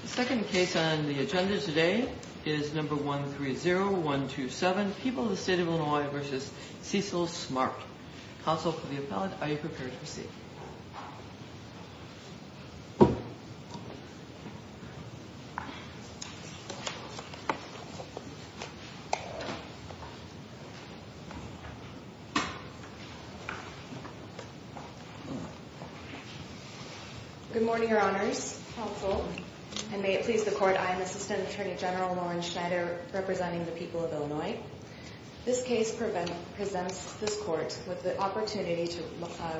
The second case on the agenda today is number 130127, People of the State of Illinois v. Cecil Smart. Counsel for the appellant, are you prepared to proceed? Good morning, Your Honors. Counsel, and may it please the Court, I am Assistant Attorney General Lauren Schneider representing the people of Illinois. This case presents this Court with the opportunity to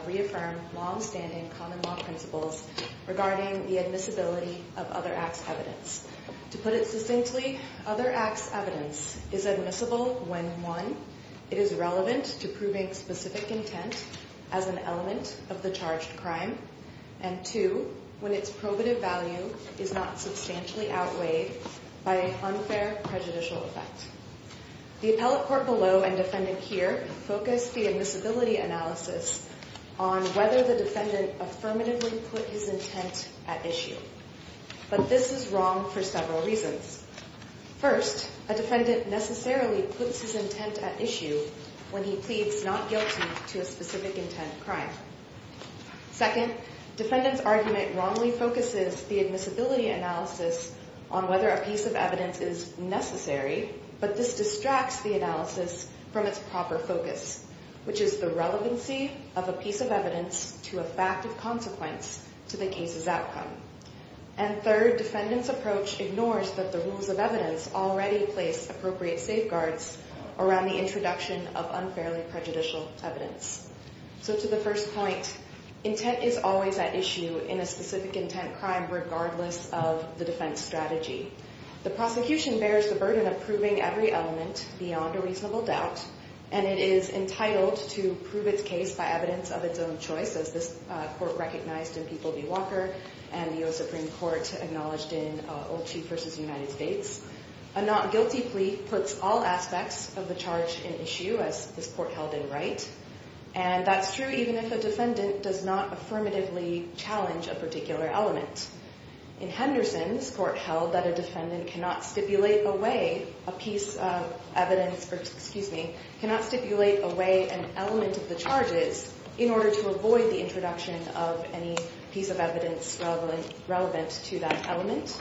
reaffirm long-standing common law principles regarding the admissibility of other acts evidence. To put it succinctly, other acts evidence is admissible when, one, it is relevant to proving specific intent as an element of the charged crime, and two, when its probative value is not substantially outweighed by an unfair prejudicial effect. The appellate court below and defendant here focus the admissibility analysis on whether the defendant affirmatively put his intent at issue. But this is wrong for several reasons. First, a defendant necessarily puts his intent at issue when he pleads not guilty to a specific intent crime. Second, defendant's argument wrongly focuses the admissibility analysis on whether a piece of evidence is necessary, but this distracts the analysis from its proper focus, which is the relevancy of a piece of evidence to a fact of consequence to the case's outcome. And third, defendant's approach ignores that the rules of evidence already place appropriate safeguards around the introduction of unfairly prejudicial evidence. So to the first point, intent is always at issue in a specific intent crime regardless of the defense strategy. The prosecution bears the burden of proving every element beyond a reasonable doubt, and it is entitled to prove its case by evidence of its own choice, as this court recognized in People v. Walker and the U.S. Supreme Court acknowledged in Olchee v. United States. A not guilty plea puts all aspects of the charge in issue, as this court held in Wright, and that's true even if a defendant does not affirmatively challenge a particular element. In Henderson, this court held that a defendant cannot stipulate away a piece of evidence, or excuse me, cannot stipulate away an element of the charges in order to avoid the introduction of any piece of evidence relevant to that element.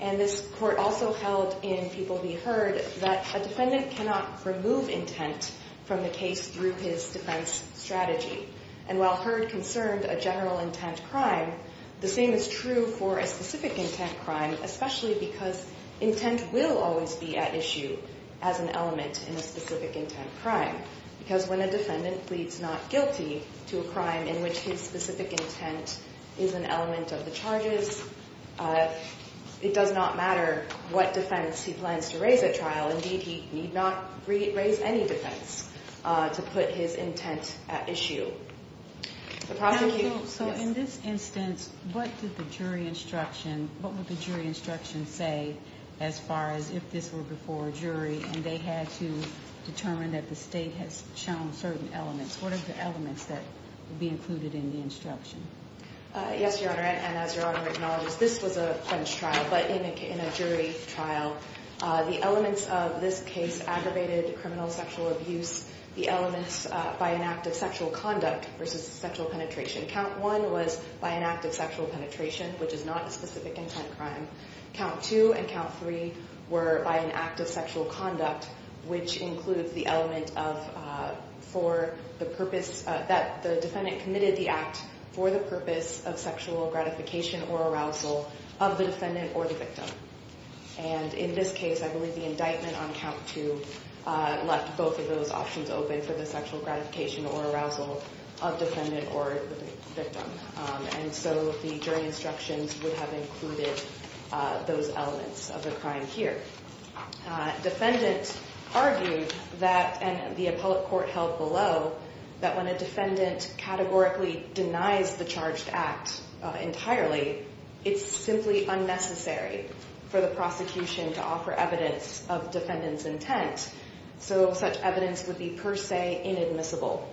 And this court also held in People v. Heard that a defendant cannot remove intent from the case through his defense strategy. And while Heard concerned a general intent crime, the same is true for a specific intent crime, especially because intent will always be at issue as an element in a specific intent crime, because when a defendant pleads not guilty to a crime in which his specific intent is an element of the charges, it does not matter what defense he plans to raise at trial. Indeed, he need not raise any defense to put his intent at issue. The prosecution – So in this instance, what did the jury instruction – what would the jury instruction say as far as if this were before a jury, and they had to determine that the state has shown certain elements? What are the elements that would be included in the instruction? Yes, Your Honor, and as Your Honor acknowledges, this was a plenched trial, but in a jury trial. The elements of this case aggravated criminal sexual abuse. The elements by an act of sexual conduct versus sexual penetration. Count one was by an act of sexual penetration, which is not a specific intent crime. Count two and count three were by an act of sexual conduct, which includes the element of for the purpose – that the defendant committed the act for the purpose of sexual gratification or arousal of the defendant or the victim. And in this case, I believe the indictment on count two left both of those options open for the sexual gratification or arousal of defendant or victim. And so the jury instructions would have included those elements of the crime here. Defendant argued that – and the appellate court held below – that when a defendant categorically denies the charged act entirely, it's simply unnecessary for the prosecution to offer evidence of defendant's intent. So such evidence would be per se inadmissible.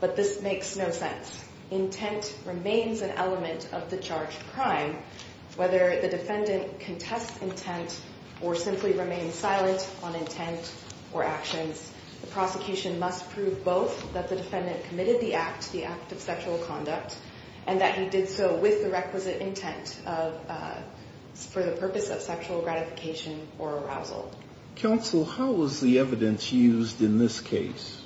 But this makes no sense. Intent remains an element of the charged crime. Whether the defendant contests intent or simply remains silent on intent or actions, the prosecution must prove both that the defendant committed the act, the act of sexual conduct, and that he did so with the requisite intent for the purpose of sexual gratification or arousal. Counsel, how was the evidence used in this case?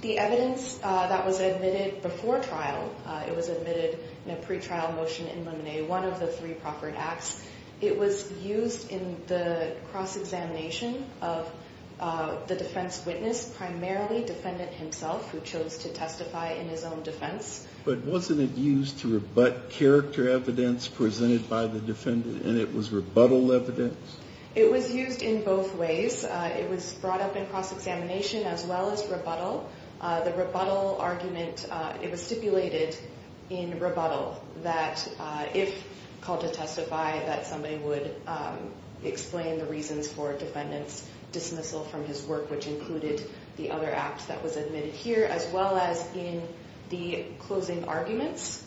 The evidence that was admitted before trial, it was admitted in a pretrial motion in limine, one of the three proffered acts. It was used in the cross-examination of the defense witness, primarily defendant himself, who chose to testify in his own defense. But wasn't it used to rebut character evidence presented by the defendant and it was rebuttal evidence? It was used in both ways. It was brought up in cross-examination as well as rebuttal. The rebuttal argument, it was stipulated in rebuttal that if called to testify, that somebody would explain the reasons for defendant's dismissal from his work, which included the other act that was admitted here, as well as in the closing arguments.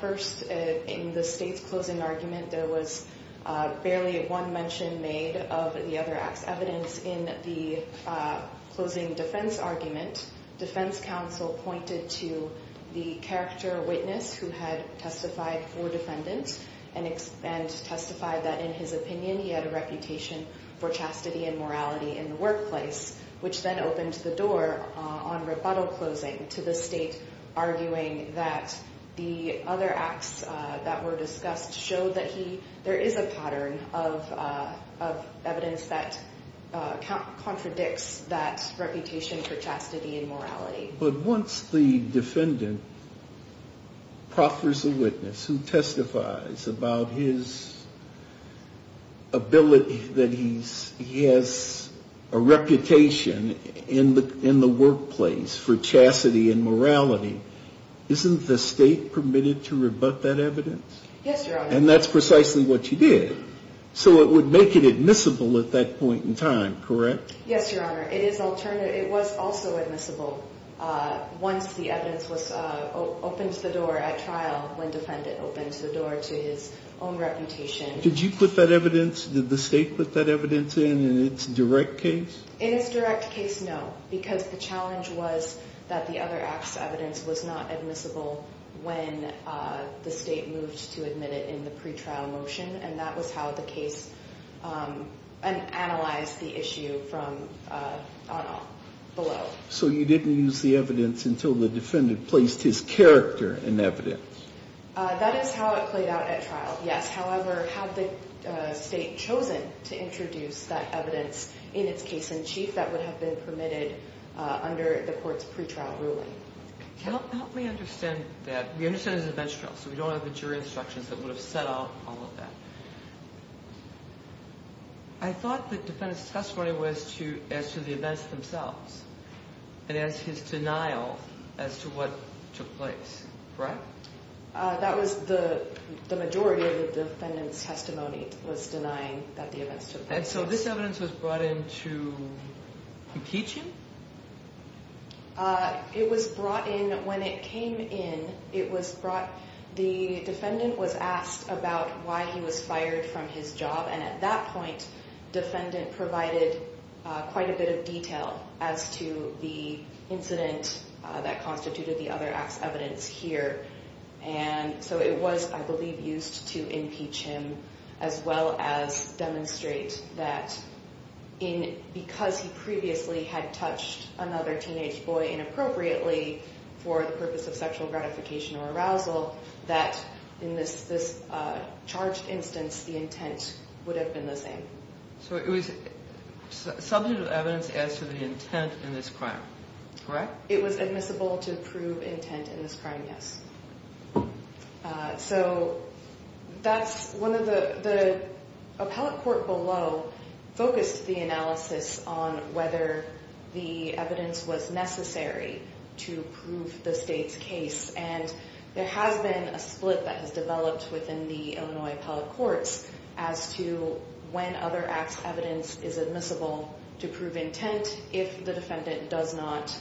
First, in the state's closing argument, there was barely one mention made of the other act's evidence. In the closing defense argument, defense counsel pointed to the character witness who had testified for defendant and testified that, in his opinion, he had a reputation for chastity and morality in the workplace, which then opened the door on rebuttal closing to the state, arguing that the other acts that were discussed showed that there is a pattern of evidence that contradicts that reputation for chastity and morality. But once the defendant proffers a witness who testifies about his ability, that he has a reputation in the workplace for chastity and morality, isn't the state permitted to rebut that evidence? Yes, Your Honor. And that's precisely what you did. So it would make it admissible at that point in time, correct? Yes, Your Honor. It is alternative. It was also admissible once the evidence opened the door at trial, when defendant opened the door to his own reputation. Did you put that evidence? Did the state put that evidence in in its direct case? In its direct case, no, because the challenge was that the other acts' evidence was not admissible when the state moved to admit it in the pretrial motion, and that was how the case analyzed the issue from below. So you didn't use the evidence until the defendant placed his character in evidence. That is how it played out at trial, yes. However, had the state chosen to introduce that evidence in its case in chief, that would have been permitted under the court's pretrial ruling. Help me understand that. We understand it was a bench trial, so we don't have the jury instructions that would have set out all of that. I thought the defendant's testimony was as to the events themselves and as his denial as to what took place, correct? That was the majority of the defendant's testimony, was denying that the events took place. And so this evidence was brought in to impeach him? It was brought in when it came in. The defendant was asked about why he was fired from his job, and at that point defendant provided quite a bit of detail as to the incident that constituted the other evidence here. And so it was, I believe, used to impeach him as well as demonstrate that because he previously had touched another teenage boy inappropriately for the purpose of sexual gratification or arousal, that in this charged instance the intent would have been the same. So it was substantive evidence as to the intent in this crime, correct? It was admissible to prove intent in this crime, yes. So that's one of the – the appellate court below focused the analysis on whether the evidence was necessary to prove the state's case, and there has been a split that has developed within the Illinois appellate courts as to when other acts' evidence is admissible to prove intent if the defendant does not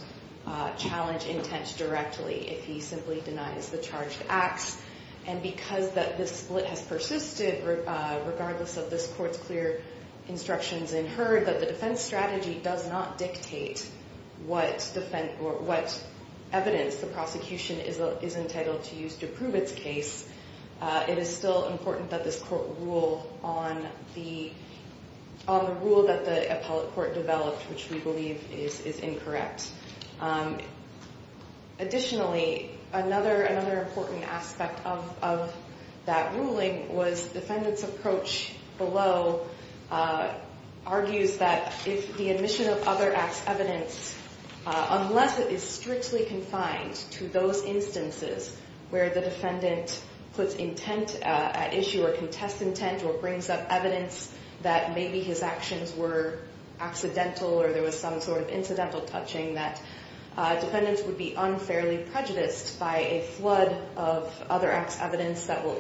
challenge intent directly, if he simply denies the charged acts. And because this split has persisted regardless of this court's clear instructions and heard that the defense strategy does not dictate what evidence the prosecution is entitled to use to prove its case, it is still important that this court rule on the rule that the appellate court developed, which we believe is incorrect. Additionally, another important aspect of that ruling was the defendant's approach below argues that if the admission of other acts' evidence, unless it is strictly confined to those instances where the defendant puts intent at issue or contests intent or brings up evidence that maybe his actions were accidental or there was some sort of incidental touching, that defendants would be unfairly prejudiced by a flood of other acts' evidence that will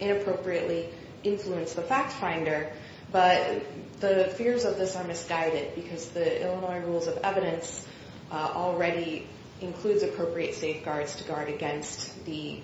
inappropriately influence the fact finder. But the fears of this are misguided because the Illinois rules of evidence already includes appropriate safeguards to guard against the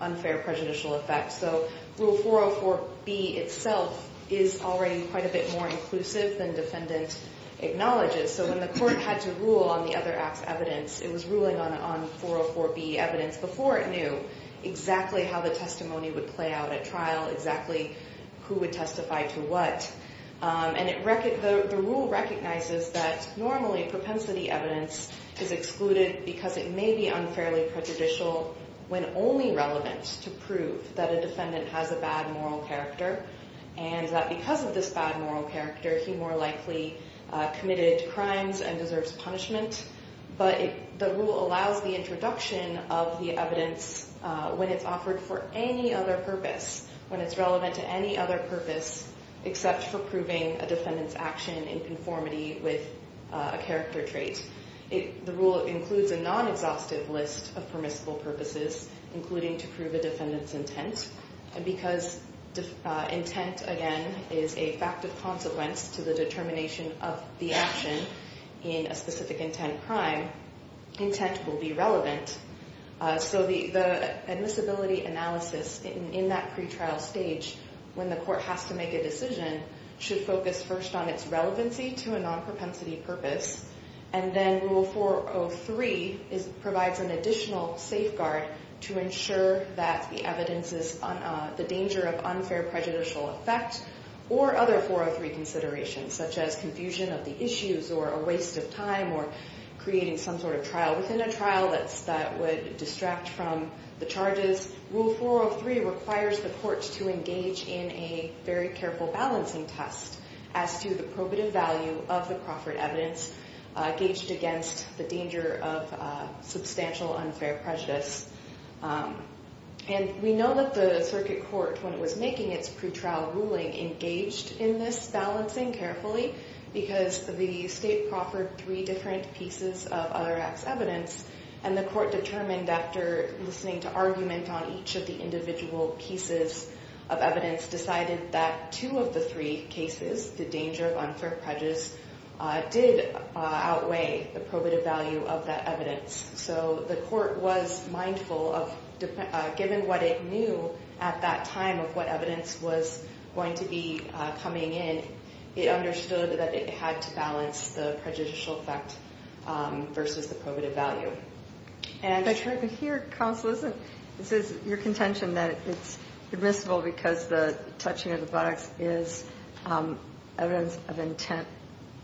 unfair prejudicial effects. So Rule 404B itself is already quite a bit more inclusive than defendant acknowledges. So when the court had to rule on the other acts' evidence, it was ruling on 404B evidence before it knew exactly how the testimony would play out at trial, exactly who would testify to what. The rule recognizes that normally propensity evidence is excluded because it may be unfairly prejudicial when only relevant to prove that a defendant has a bad moral character and that because of this bad moral character, he more likely committed crimes and deserves punishment. But the rule allows the introduction of the evidence when it's offered for any other purpose, when it's relevant to any other purpose except for proving a defendant's action in conformity with a character trait. The rule includes a non-exhaustive list of permissible purposes, including to prove a defendant's intent. And because intent, again, is a fact of consequence to the determination of the action in a specific intent crime, intent will be relevant. So the admissibility analysis in that pretrial stage when the court has to make a decision should focus first on its relevancy to a non-propensity purpose. And then Rule 403 provides an additional safeguard to ensure that the evidence is the danger of unfair prejudicial effect or other 403 considerations, such as confusion of the issues or a waste of time or creating some sort of trial within a trial that would distract from the charges. Rule 403 requires the courts to engage in a very careful balancing test as to the probative value of the Crawford evidence gauged against the danger of substantial unfair prejudice. And we know that the circuit court, when it was making its pretrial ruling, engaged in this balancing carefully because the state proffered three different pieces of other acts evidence. And the court determined, after listening to argument on each of the individual pieces of evidence, decided that two of the three cases, the danger of unfair prejudice, did outweigh the probative value of that evidence. So the court was mindful of, given what it knew at that time of what evidence was going to be coming in, it understood that it had to balance the prejudicial effect versus the probative value. I'm trying to hear, counsel. It says in your contention that it's admissible because the touching of the buttocks is evidence of intent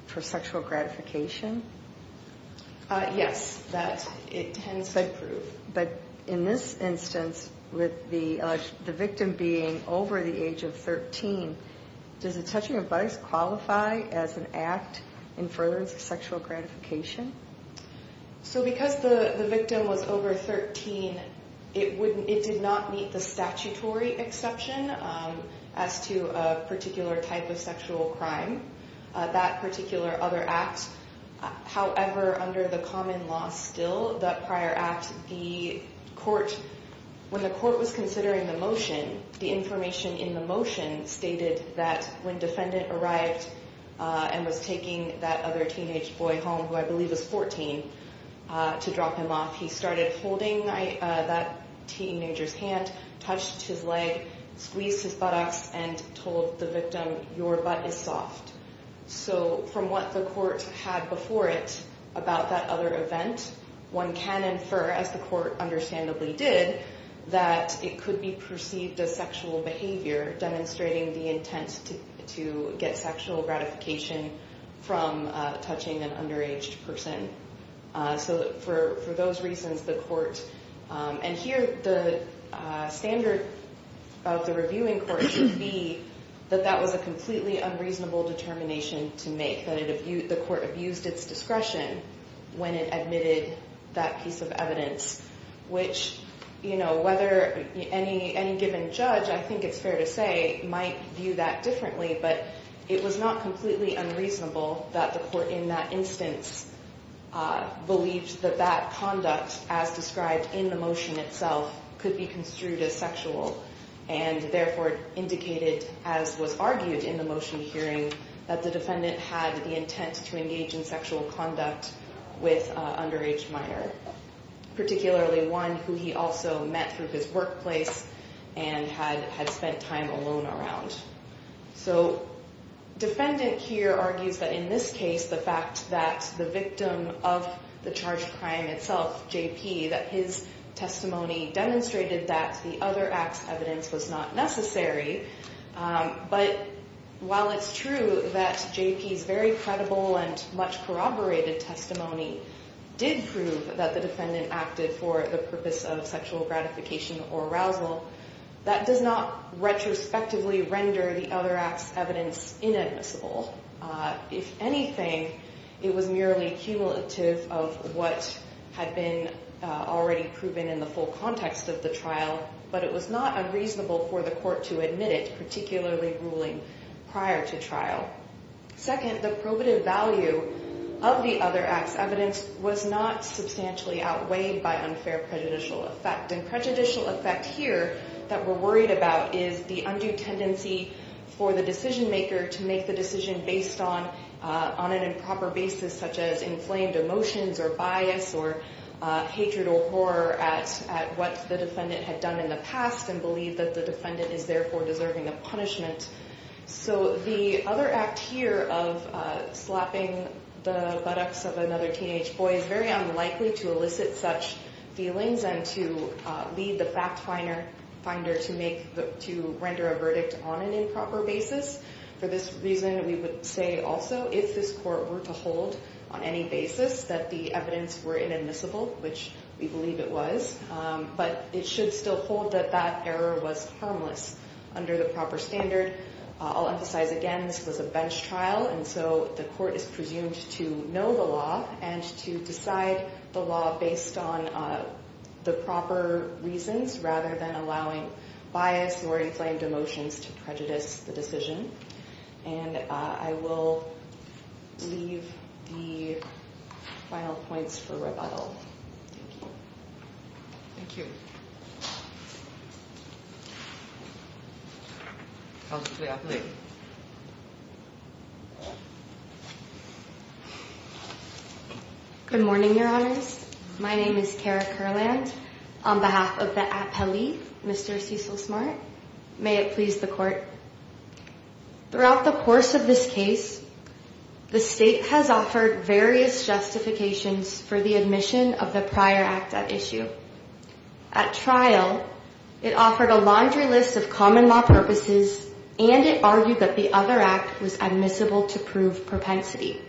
for sexual gratification. Yes, that it tends to prove. But in this instance, with the victim being over the age of 13, does the touching of buttocks qualify as an act in furtherance of sexual gratification? So because the victim was over 13, it did not meet the statutory exception as to a particular type of sexual crime. That particular other act. However, under the common law still, that prior act, the court, when the court was considering the motion, the information in the motion stated that when defendant arrived and was taking that other teenage boy home, who I believe was 14, to drop him off, he started holding that teenager's hand, touched his leg, squeezed his buttocks, and told the victim, your butt is soft. So from what the court had before it about that other event, one can infer, as the court understandably did, that it could be perceived as sexual behavior demonstrating the intent to get sexual gratification from touching an underage person. So for those reasons, the court... And here, the standard of the reviewing court would be that that was a completely unreasonable determination to make, that the court abused its discretion when it admitted that piece of evidence, which, you know, whether any given judge, I think it's fair to say, might view that differently, but it was not completely unreasonable that the court in that instance believed that that conduct, as described in the motion itself, could be construed as sexual, and therefore indicated, as was argued in the motion hearing, that the defendant had the intent to engage in sexual conduct with an underage minor, particularly one who he also met through his workplace and had spent time alone around. So defendant here argues that in this case, the fact that the victim of the charged crime itself, J.P., that his testimony demonstrated that the other act's evidence was not necessary, but while it's true that J.P.'s very credible and much corroborated testimony did prove that the defendant acted for the purpose of sexual gratification or arousal, that does not retrospectively render the other act's evidence inadmissible. If anything, it was merely cumulative of what had been already proven in the full context of the trial, but it was not unreasonable for the court to admit it, particularly ruling prior to trial. Second, the probative value of the other act's evidence was not substantially outweighed by unfair prejudicial effect, and prejudicial effect here that we're worried about is the undue tendency for the decision maker to make the decision based on an improper basis such as inflamed emotions or bias or hatred or horror at what the defendant had done in the past and believe that the defendant is therefore deserving of punishment. So the other act here of slapping the buttocks of another teenage boy is very unlikely to elicit such feelings and to lead the fact finder to render a verdict on an improper basis. For this reason, we would say also if this court were to hold on any basis that the evidence were inadmissible, which we believe it was, but it should still hold that that error was harmless under the proper standard. I'll emphasize again this was a bench trial, and so the court is presumed to know the law and to decide the law based on the proper reasons rather than allowing bias or inflamed emotions to prejudice the decision. And I will leave the final points for rebuttal. Thank you. Thank you. Good morning, Your Honors. My name is Kara Curland on behalf of the appellee, Mr. Cecil Smart. May it please the court. Throughout the course of this case, the state has offered various justifications for the admission of the prior act at issue. At trial, it offered a laundry list of common law purposes, and it argued that the other act was admissible to prove propensity.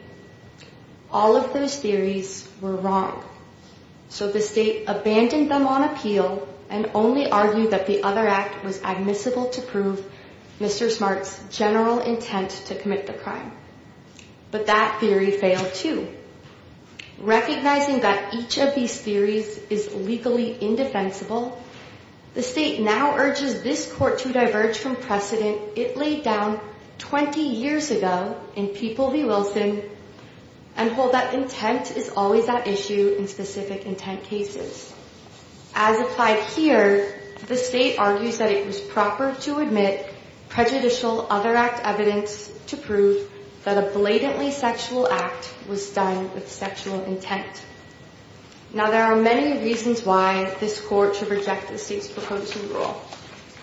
All of those theories were wrong. So the state abandoned them on appeal and only argued that the other act was admissible to prove Mr. Smart's general intent to commit the crime. But that theory failed, too. Recognizing that each of these theories is legally indefensible, the state now urges this court to diverge from precedent it laid down 20 years ago in People v. Wilson and hold that intent is always at issue in specific intent cases. As applied here, the state argues that it was proper to admit prejudicial other act evidence to prove that a blatantly sexual act was done with sexual intent. Now, there are many reasons why this court should reject the state's proposed rule.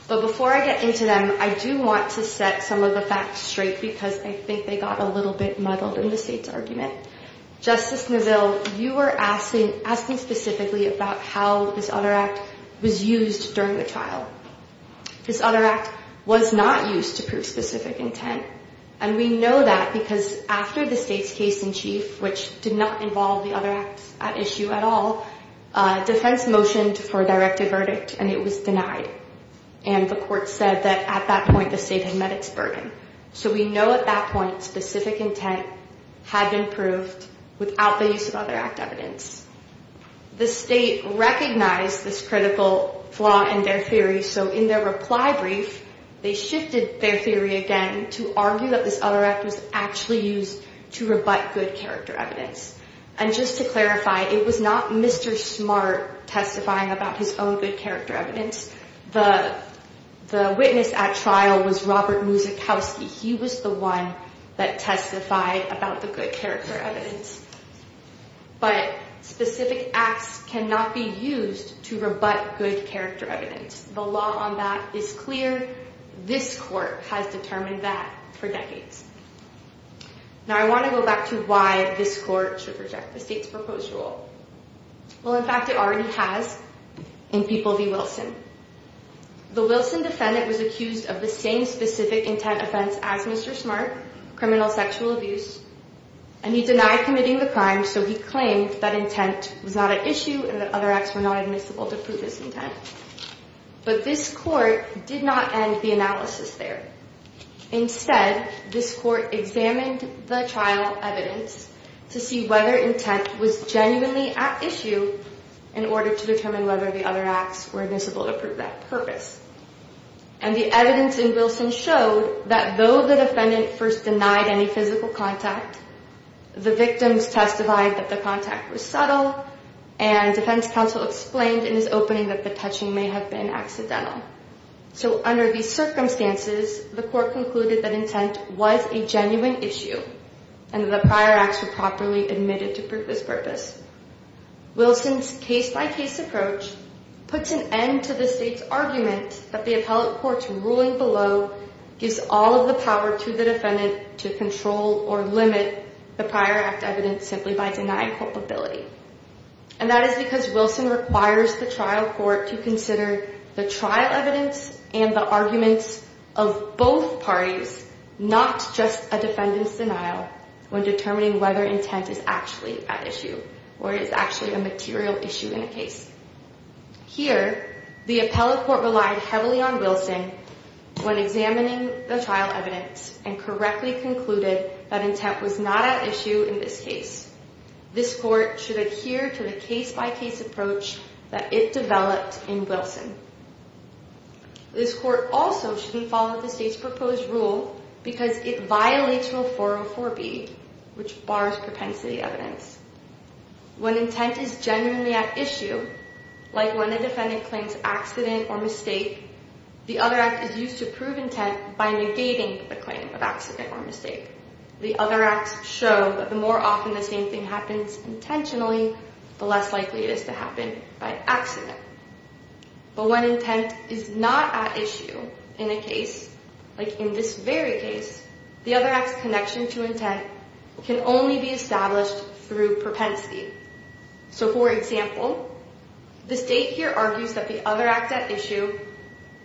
But before I get into them, I do want to set some of the facts straight because I think they got a little bit muddled in the state's argument. Justice Neville, you were asking specifically about how this other act was used during the trial. This other act was not used to prove specific intent, and we know that because after the state's case in chief, which did not involve the other act at issue at all, the defense motioned for a directive verdict, and it was denied. And the court said that at that point the state had met its burden. So we know at that point specific intent had been proved without the use of other act evidence. The state recognized this critical flaw in their theory, so in their reply brief, they shifted their theory again to argue that this other act was actually used to rebut good character evidence. And just to clarify, it was not Mr. Smart testifying about his own good character evidence. The witness at trial was Robert Muzikowski. He was the one that testified about the good character evidence. But specific acts cannot be used to rebut good character evidence. The law on that is clear. This court has determined that for decades. Now I want to go back to why this court should reject the state's proposed rule. Well, in fact, it already has in People v. Wilson. The Wilson defendant was accused of the same specific intent offense as Mr. Smart, criminal sexual abuse, and he denied committing the crime, so he claimed that intent was not at issue and that other acts were not admissible to prove his intent. But this court did not end the analysis there. Instead, this court examined the trial evidence to see whether intent was genuinely at issue in order to determine whether the other acts were admissible to prove that purpose. And the evidence in Wilson showed that though the defendant first denied any physical contact, the victims testified that the contact was subtle and defense counsel explained in his opening that the touching may have been accidental. So under these circumstances, the court concluded that intent was a genuine issue and the prior acts were properly admitted to prove this purpose. Wilson's case by case approach puts an end to the state's argument that the appellate courts ruling below gives all of the power to the defendant to control or limit the prior act evidence simply by denying culpability. And that is because Wilson requires the trial court to consider the trial evidence and the arguments of both parties, not just a defendant's denial when determining whether intent is actually at issue or is actually a material issue in a case. Here, the appellate court relied heavily on Wilson when examining the trial evidence and correctly concluded that intent was not at issue in this case. This court should adhere to the case by case approach that it developed in Wilson. This court also shouldn't follow the state's proposed rule because it violates rule 404B, which bars propensity evidence. When intent is genuinely at issue, like when a defendant claims accident or mistake, the other act is used to prove intent by negating the claim of accident or mistake. The other acts show that the more often the same thing happens intentionally, the less likely it is to happen by accident. But when intent is not at issue in a case, like in this very case, the other act's connection to intent can only be established through propensity. So, for example, the state here argues that the other act at issue,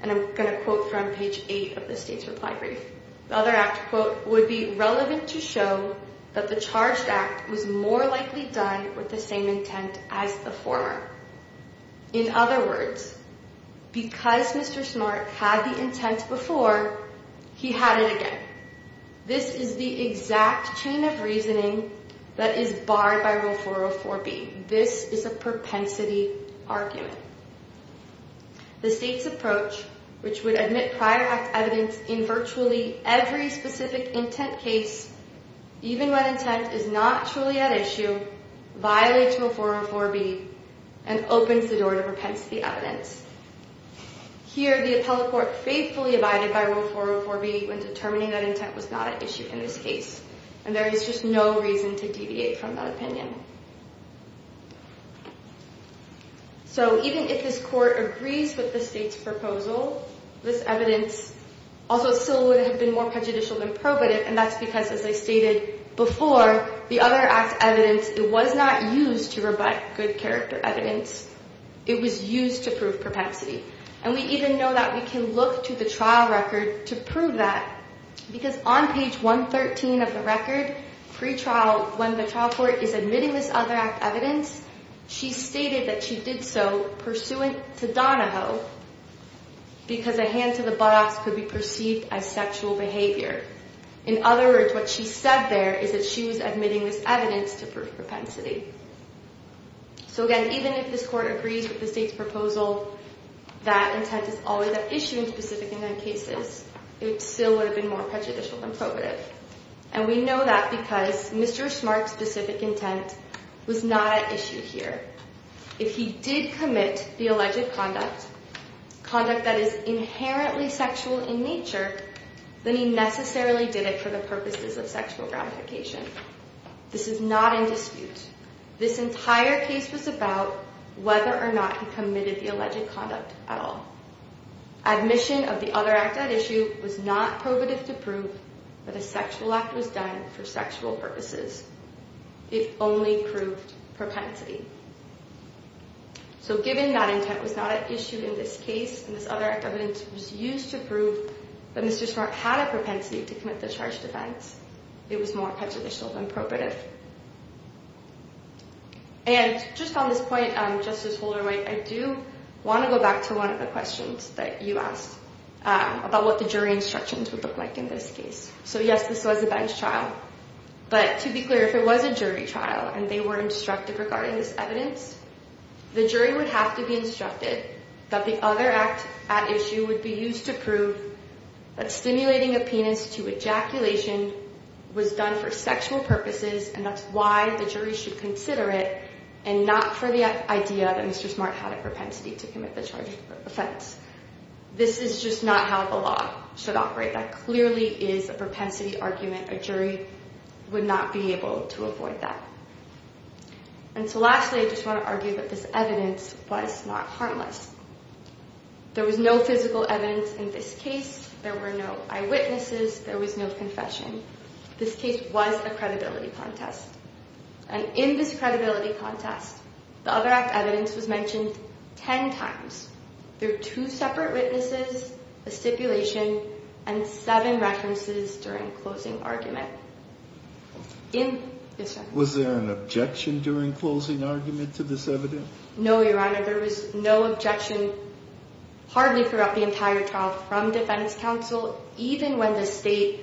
and I'm going to quote from page 8 of the state's reply brief, the other act, quote, would be relevant to show that the charged act was more likely done with the same intent as the former. In other words, because Mr. Smart had the intent before, he had it again. This is the exact chain of reasoning that is barred by rule 404B. This is a propensity argument. The state's approach, which would admit prior act evidence in virtually every specific intent case, even when intent is not truly at issue, violates rule 404B and opens the door to propensity evidence. Here, the appellate court faithfully abided by rule 404B when determining that intent was not at issue in this case, and there is just no reason to deviate from that opinion. So, even if this court agrees with the state's proposal, this evidence also still would have been more prejudicial than probative, and that's because, as I stated before, the other act's evidence was not used to provide good character evidence. It was used to prove propensity, and we even know that we can look to the trial record to prove that, because on page 113 of the record, pre-trial, when the trial court is admitting this other act evidence, she stated that she did so pursuant to Donahoe because a hand to the buttocks could be perceived as sexual behavior. In other words, what she said there is that she was admitting this evidence to prove propensity. So, again, even if this court agrees with the state's proposal that intent is always at issue in specific intent cases, it still would have been more prejudicial than probative. And we know that because Mr. Smart's specific intent was not at issue here. If he did commit the alleged conduct, conduct that is inherently sexual in nature, then he necessarily did it for the purposes of sexual gratification. This is not in dispute. This entire case was about whether or not he committed the alleged conduct at all. Admission of the other act at issue was not probative to prove that a sexual act was done for sexual purposes. It only proved propensity. So given that intent was not at issue in this case and this other act evidence was used to prove that Mr. Smart had a propensity to commit the charged offense, it was more prejudicial than probative. And just on this point, Justice Holder-White, I do want to go back to one of the questions that you asked about what the jury instructions would look like in this case. So yes, this was a bench trial. But to be clear, if it was a jury trial and they were instructed regarding this evidence, the jury would have to be instructed that the other act at issue would be used to prove that stimulating a penis to ejaculation was done for sexual purposes and that's why the jury should consider it and not for the idea that Mr. Smart had a propensity to commit the charged offense. This is just not how the law should operate. That clearly is a propensity argument. A jury would not be able to avoid that. And so lastly, I just want to argue that this evidence was not harmless. There was no physical evidence in this case. There were no eyewitnesses. There was no confession. This case was a credibility contest. And in this credibility contest, the other act evidence was mentioned ten times. There were two separate witnesses, a stipulation, and seven references during closing argument. Was there an objection during closing argument to this evidence? No, Your Honor. There was no objection hardly throughout the entire trial from defense counsel, even when the state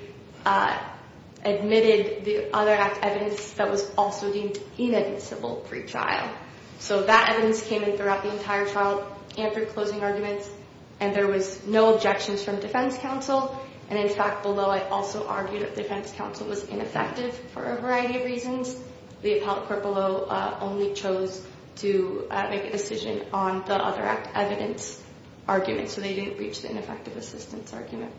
admitted the other act evidence that was also deemed inadmissible pre-trial. So that evidence came in throughout the entire trial and through closing arguments, and there was no objections from defense counsel. And in fact, below, I also argued that defense counsel was ineffective for a variety of reasons. The appellate court below only chose to make a decision on the other act evidence argument, so they didn't reach the ineffective assistance argument.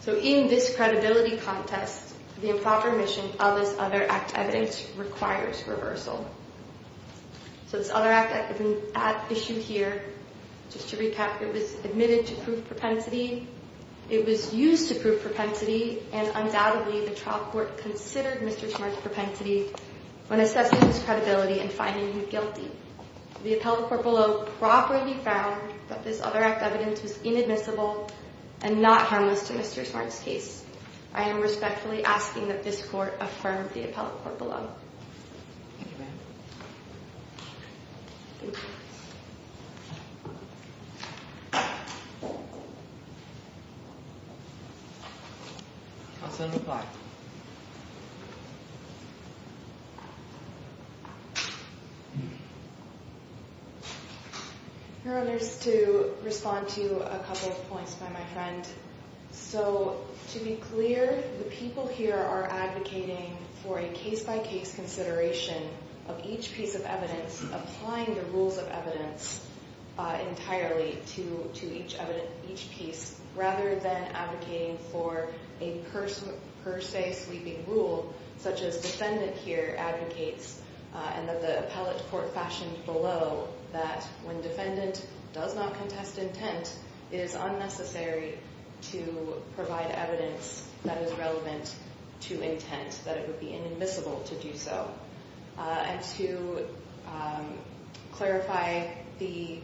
So in this credibility contest, the improper omission of this other act evidence requires reversal. So this other act has been issued here. Just to recap, it was admitted to prove propensity. It was used to prove propensity, and undoubtedly, the trial court considered Mr. Smart's propensity when assessing his credibility and finding him guilty. The appellate court below properly found that this other act evidence was inadmissible and not harmless to Mr. Smart's case. I am respectfully asking that this court affirm the appellate court below. Thank you, ma'am. Thank you. Counsel, reply. Your Honor, just to respond to a couple of points by my friend. So to be clear, the people here are advocating for a case-by-case consideration of each piece of evidence, applying the rules of evidence entirely to each piece, rather than advocating for a per se sweeping rule, such as defendant here advocates, and that the appellate court fashioned below that when defendant does not contest intent, it is unnecessary to provide evidence that is relevant to intent, that it would be inadmissible to do so. And to clarify, the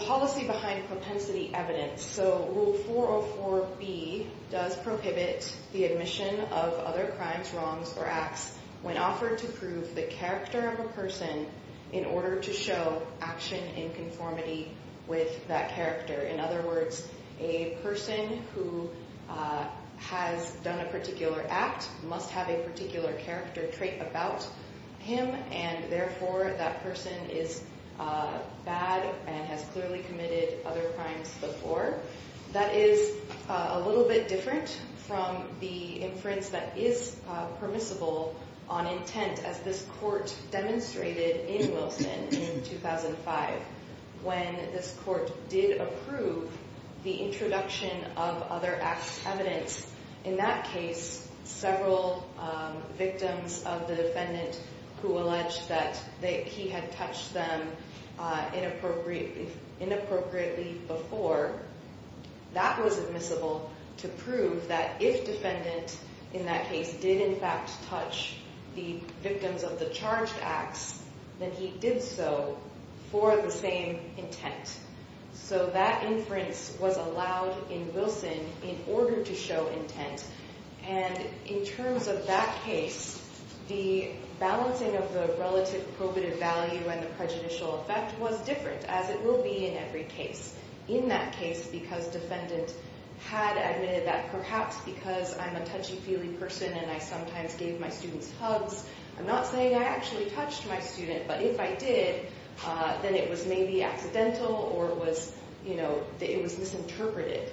policy behind propensity evidence, so Rule 404B does prohibit the admission of other crimes, wrongs, or acts when offered to prove the character of a person in order to show action in conformity with that character. In other words, a person who has done a particular act must have a particular character trait about him, and therefore that person is bad and has clearly committed other crimes before. That is a little bit different from the inference that is permissible on intent, as this court demonstrated in Wilson in 2005, when this court did approve the introduction of other acts of evidence. In that case, several victims of the defendant who alleged that he had touched them inappropriately before, that was admissible to prove that if defendant in that case did in fact touch the victims of the charged acts, then he did so for the same intent. So that inference was allowed in Wilson in order to show intent, and in terms of that case, the balancing of the relative probative value and the prejudicial effect was different, as it will be in every case. In that case, because defendant had admitted that perhaps because I'm a touchy-feely person and I sometimes gave my students hugs, I'm not saying I actually touched my student, but if I did, then it was maybe accidental or it was, you know, it was misinterpreted.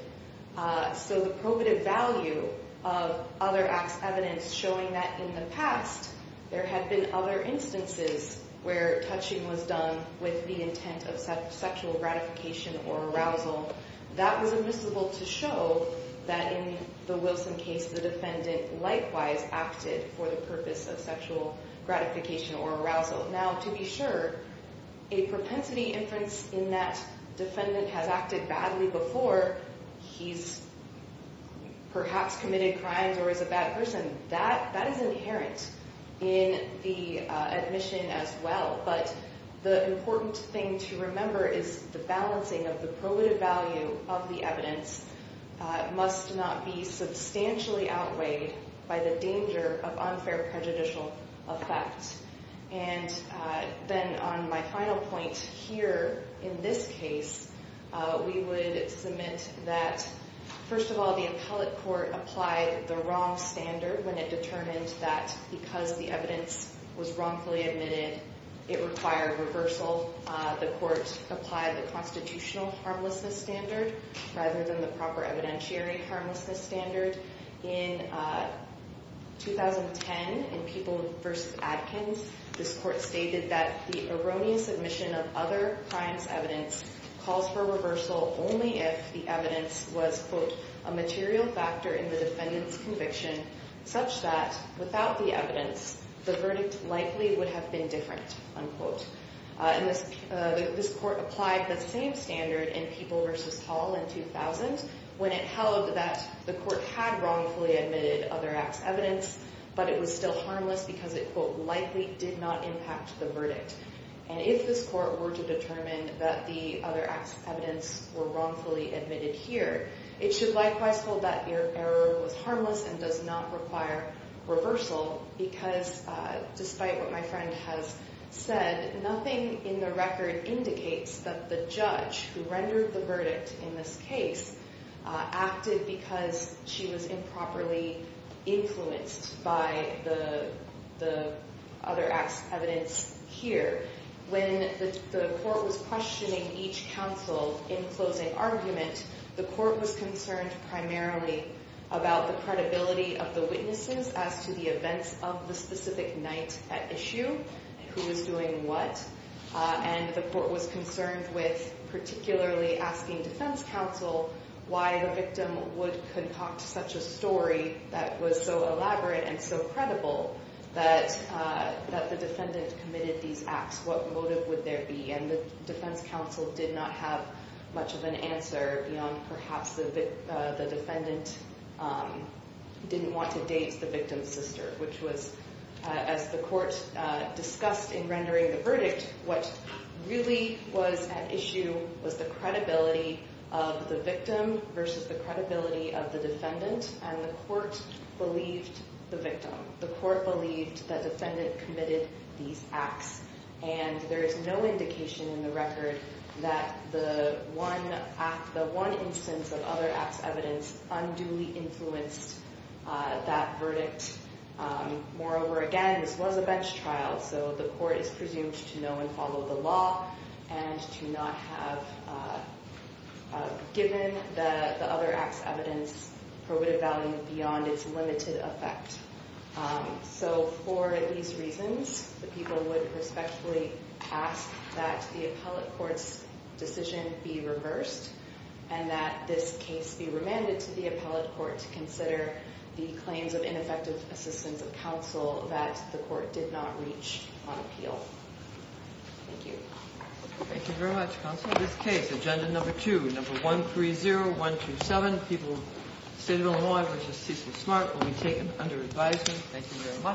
So the probative value of other acts of evidence showing that in the past, there had been other instances where touching was done with the intent of sexual gratification or arousal, that was admissible to show that in the Wilson case, the defendant likewise acted for the purpose of sexual gratification or arousal. Now, to be sure, a propensity inference in that defendant has acted badly before, he's perhaps committed crimes or is a bad person, that is inherent in the admission as well. But the important thing to remember is the balancing of the probative value of the evidence must not be substantially outweighed by the danger of unfair prejudicial effect. And then on my final point here in this case, we would submit that, first of all, the appellate court applied the wrong standard when it determined that because the evidence was wrongfully admitted, it required reversal. Second of all, the court applied the constitutional harmlessness standard rather than the proper evidentiary harmlessness standard. In 2010, in People v. Adkins, this court stated that the erroneous admission of other crimes evidence calls for reversal only if the evidence was, quote, a material factor in the defendant's conviction such that without the evidence, the verdict likely would have been different, unquote. And this court applied the same standard in People v. Hall in 2000 when it held that the court had wrongfully admitted other acts evidence, but it was still harmless because it, quote, likely did not impact the verdict. And if this court were to determine that the other acts of evidence were wrongfully admitted here, it should likewise hold that your error was harmless and does not require reversal because despite what my friend has said, nothing in the record indicates that the judge who rendered the verdict in this case acted because she was improperly influenced by the other acts of evidence here. When the court was questioning each counsel in closing argument, the court was concerned primarily about the credibility of the witnesses as to the events of the specific night at issue, who was doing what, and the court was concerned with particularly asking defense counsel why the victim would concoct such a story that was so elaborate and so credible that the defendant committed these acts. What motive would there be? And the defense counsel did not have much of an answer beyond perhaps the defendant didn't want to date the victim's sister, which was, as the court discussed in rendering the verdict, what really was at issue was the credibility of the victim versus the credibility of the defendant. And the court believed the victim. The court believed the defendant committed these acts, and there is no indication in the record that the one instance of other acts of evidence unduly influenced that verdict. Moreover, again, this was a bench trial, so the court is presumed to know and follow the law and to not have given the other acts of evidence probative value beyond its limited effect. So for these reasons, the people would respectfully ask that the appellate court's decision be reversed and that this case be remanded to the appellate court to consider the claims of ineffective assistance of counsel that the court did not reach on appeal. Thank you. Thank you very much, counsel. This case, agenda number two, number 130127, State of Illinois v. C.C. Smart, will be taken under advisement. Thank you very much.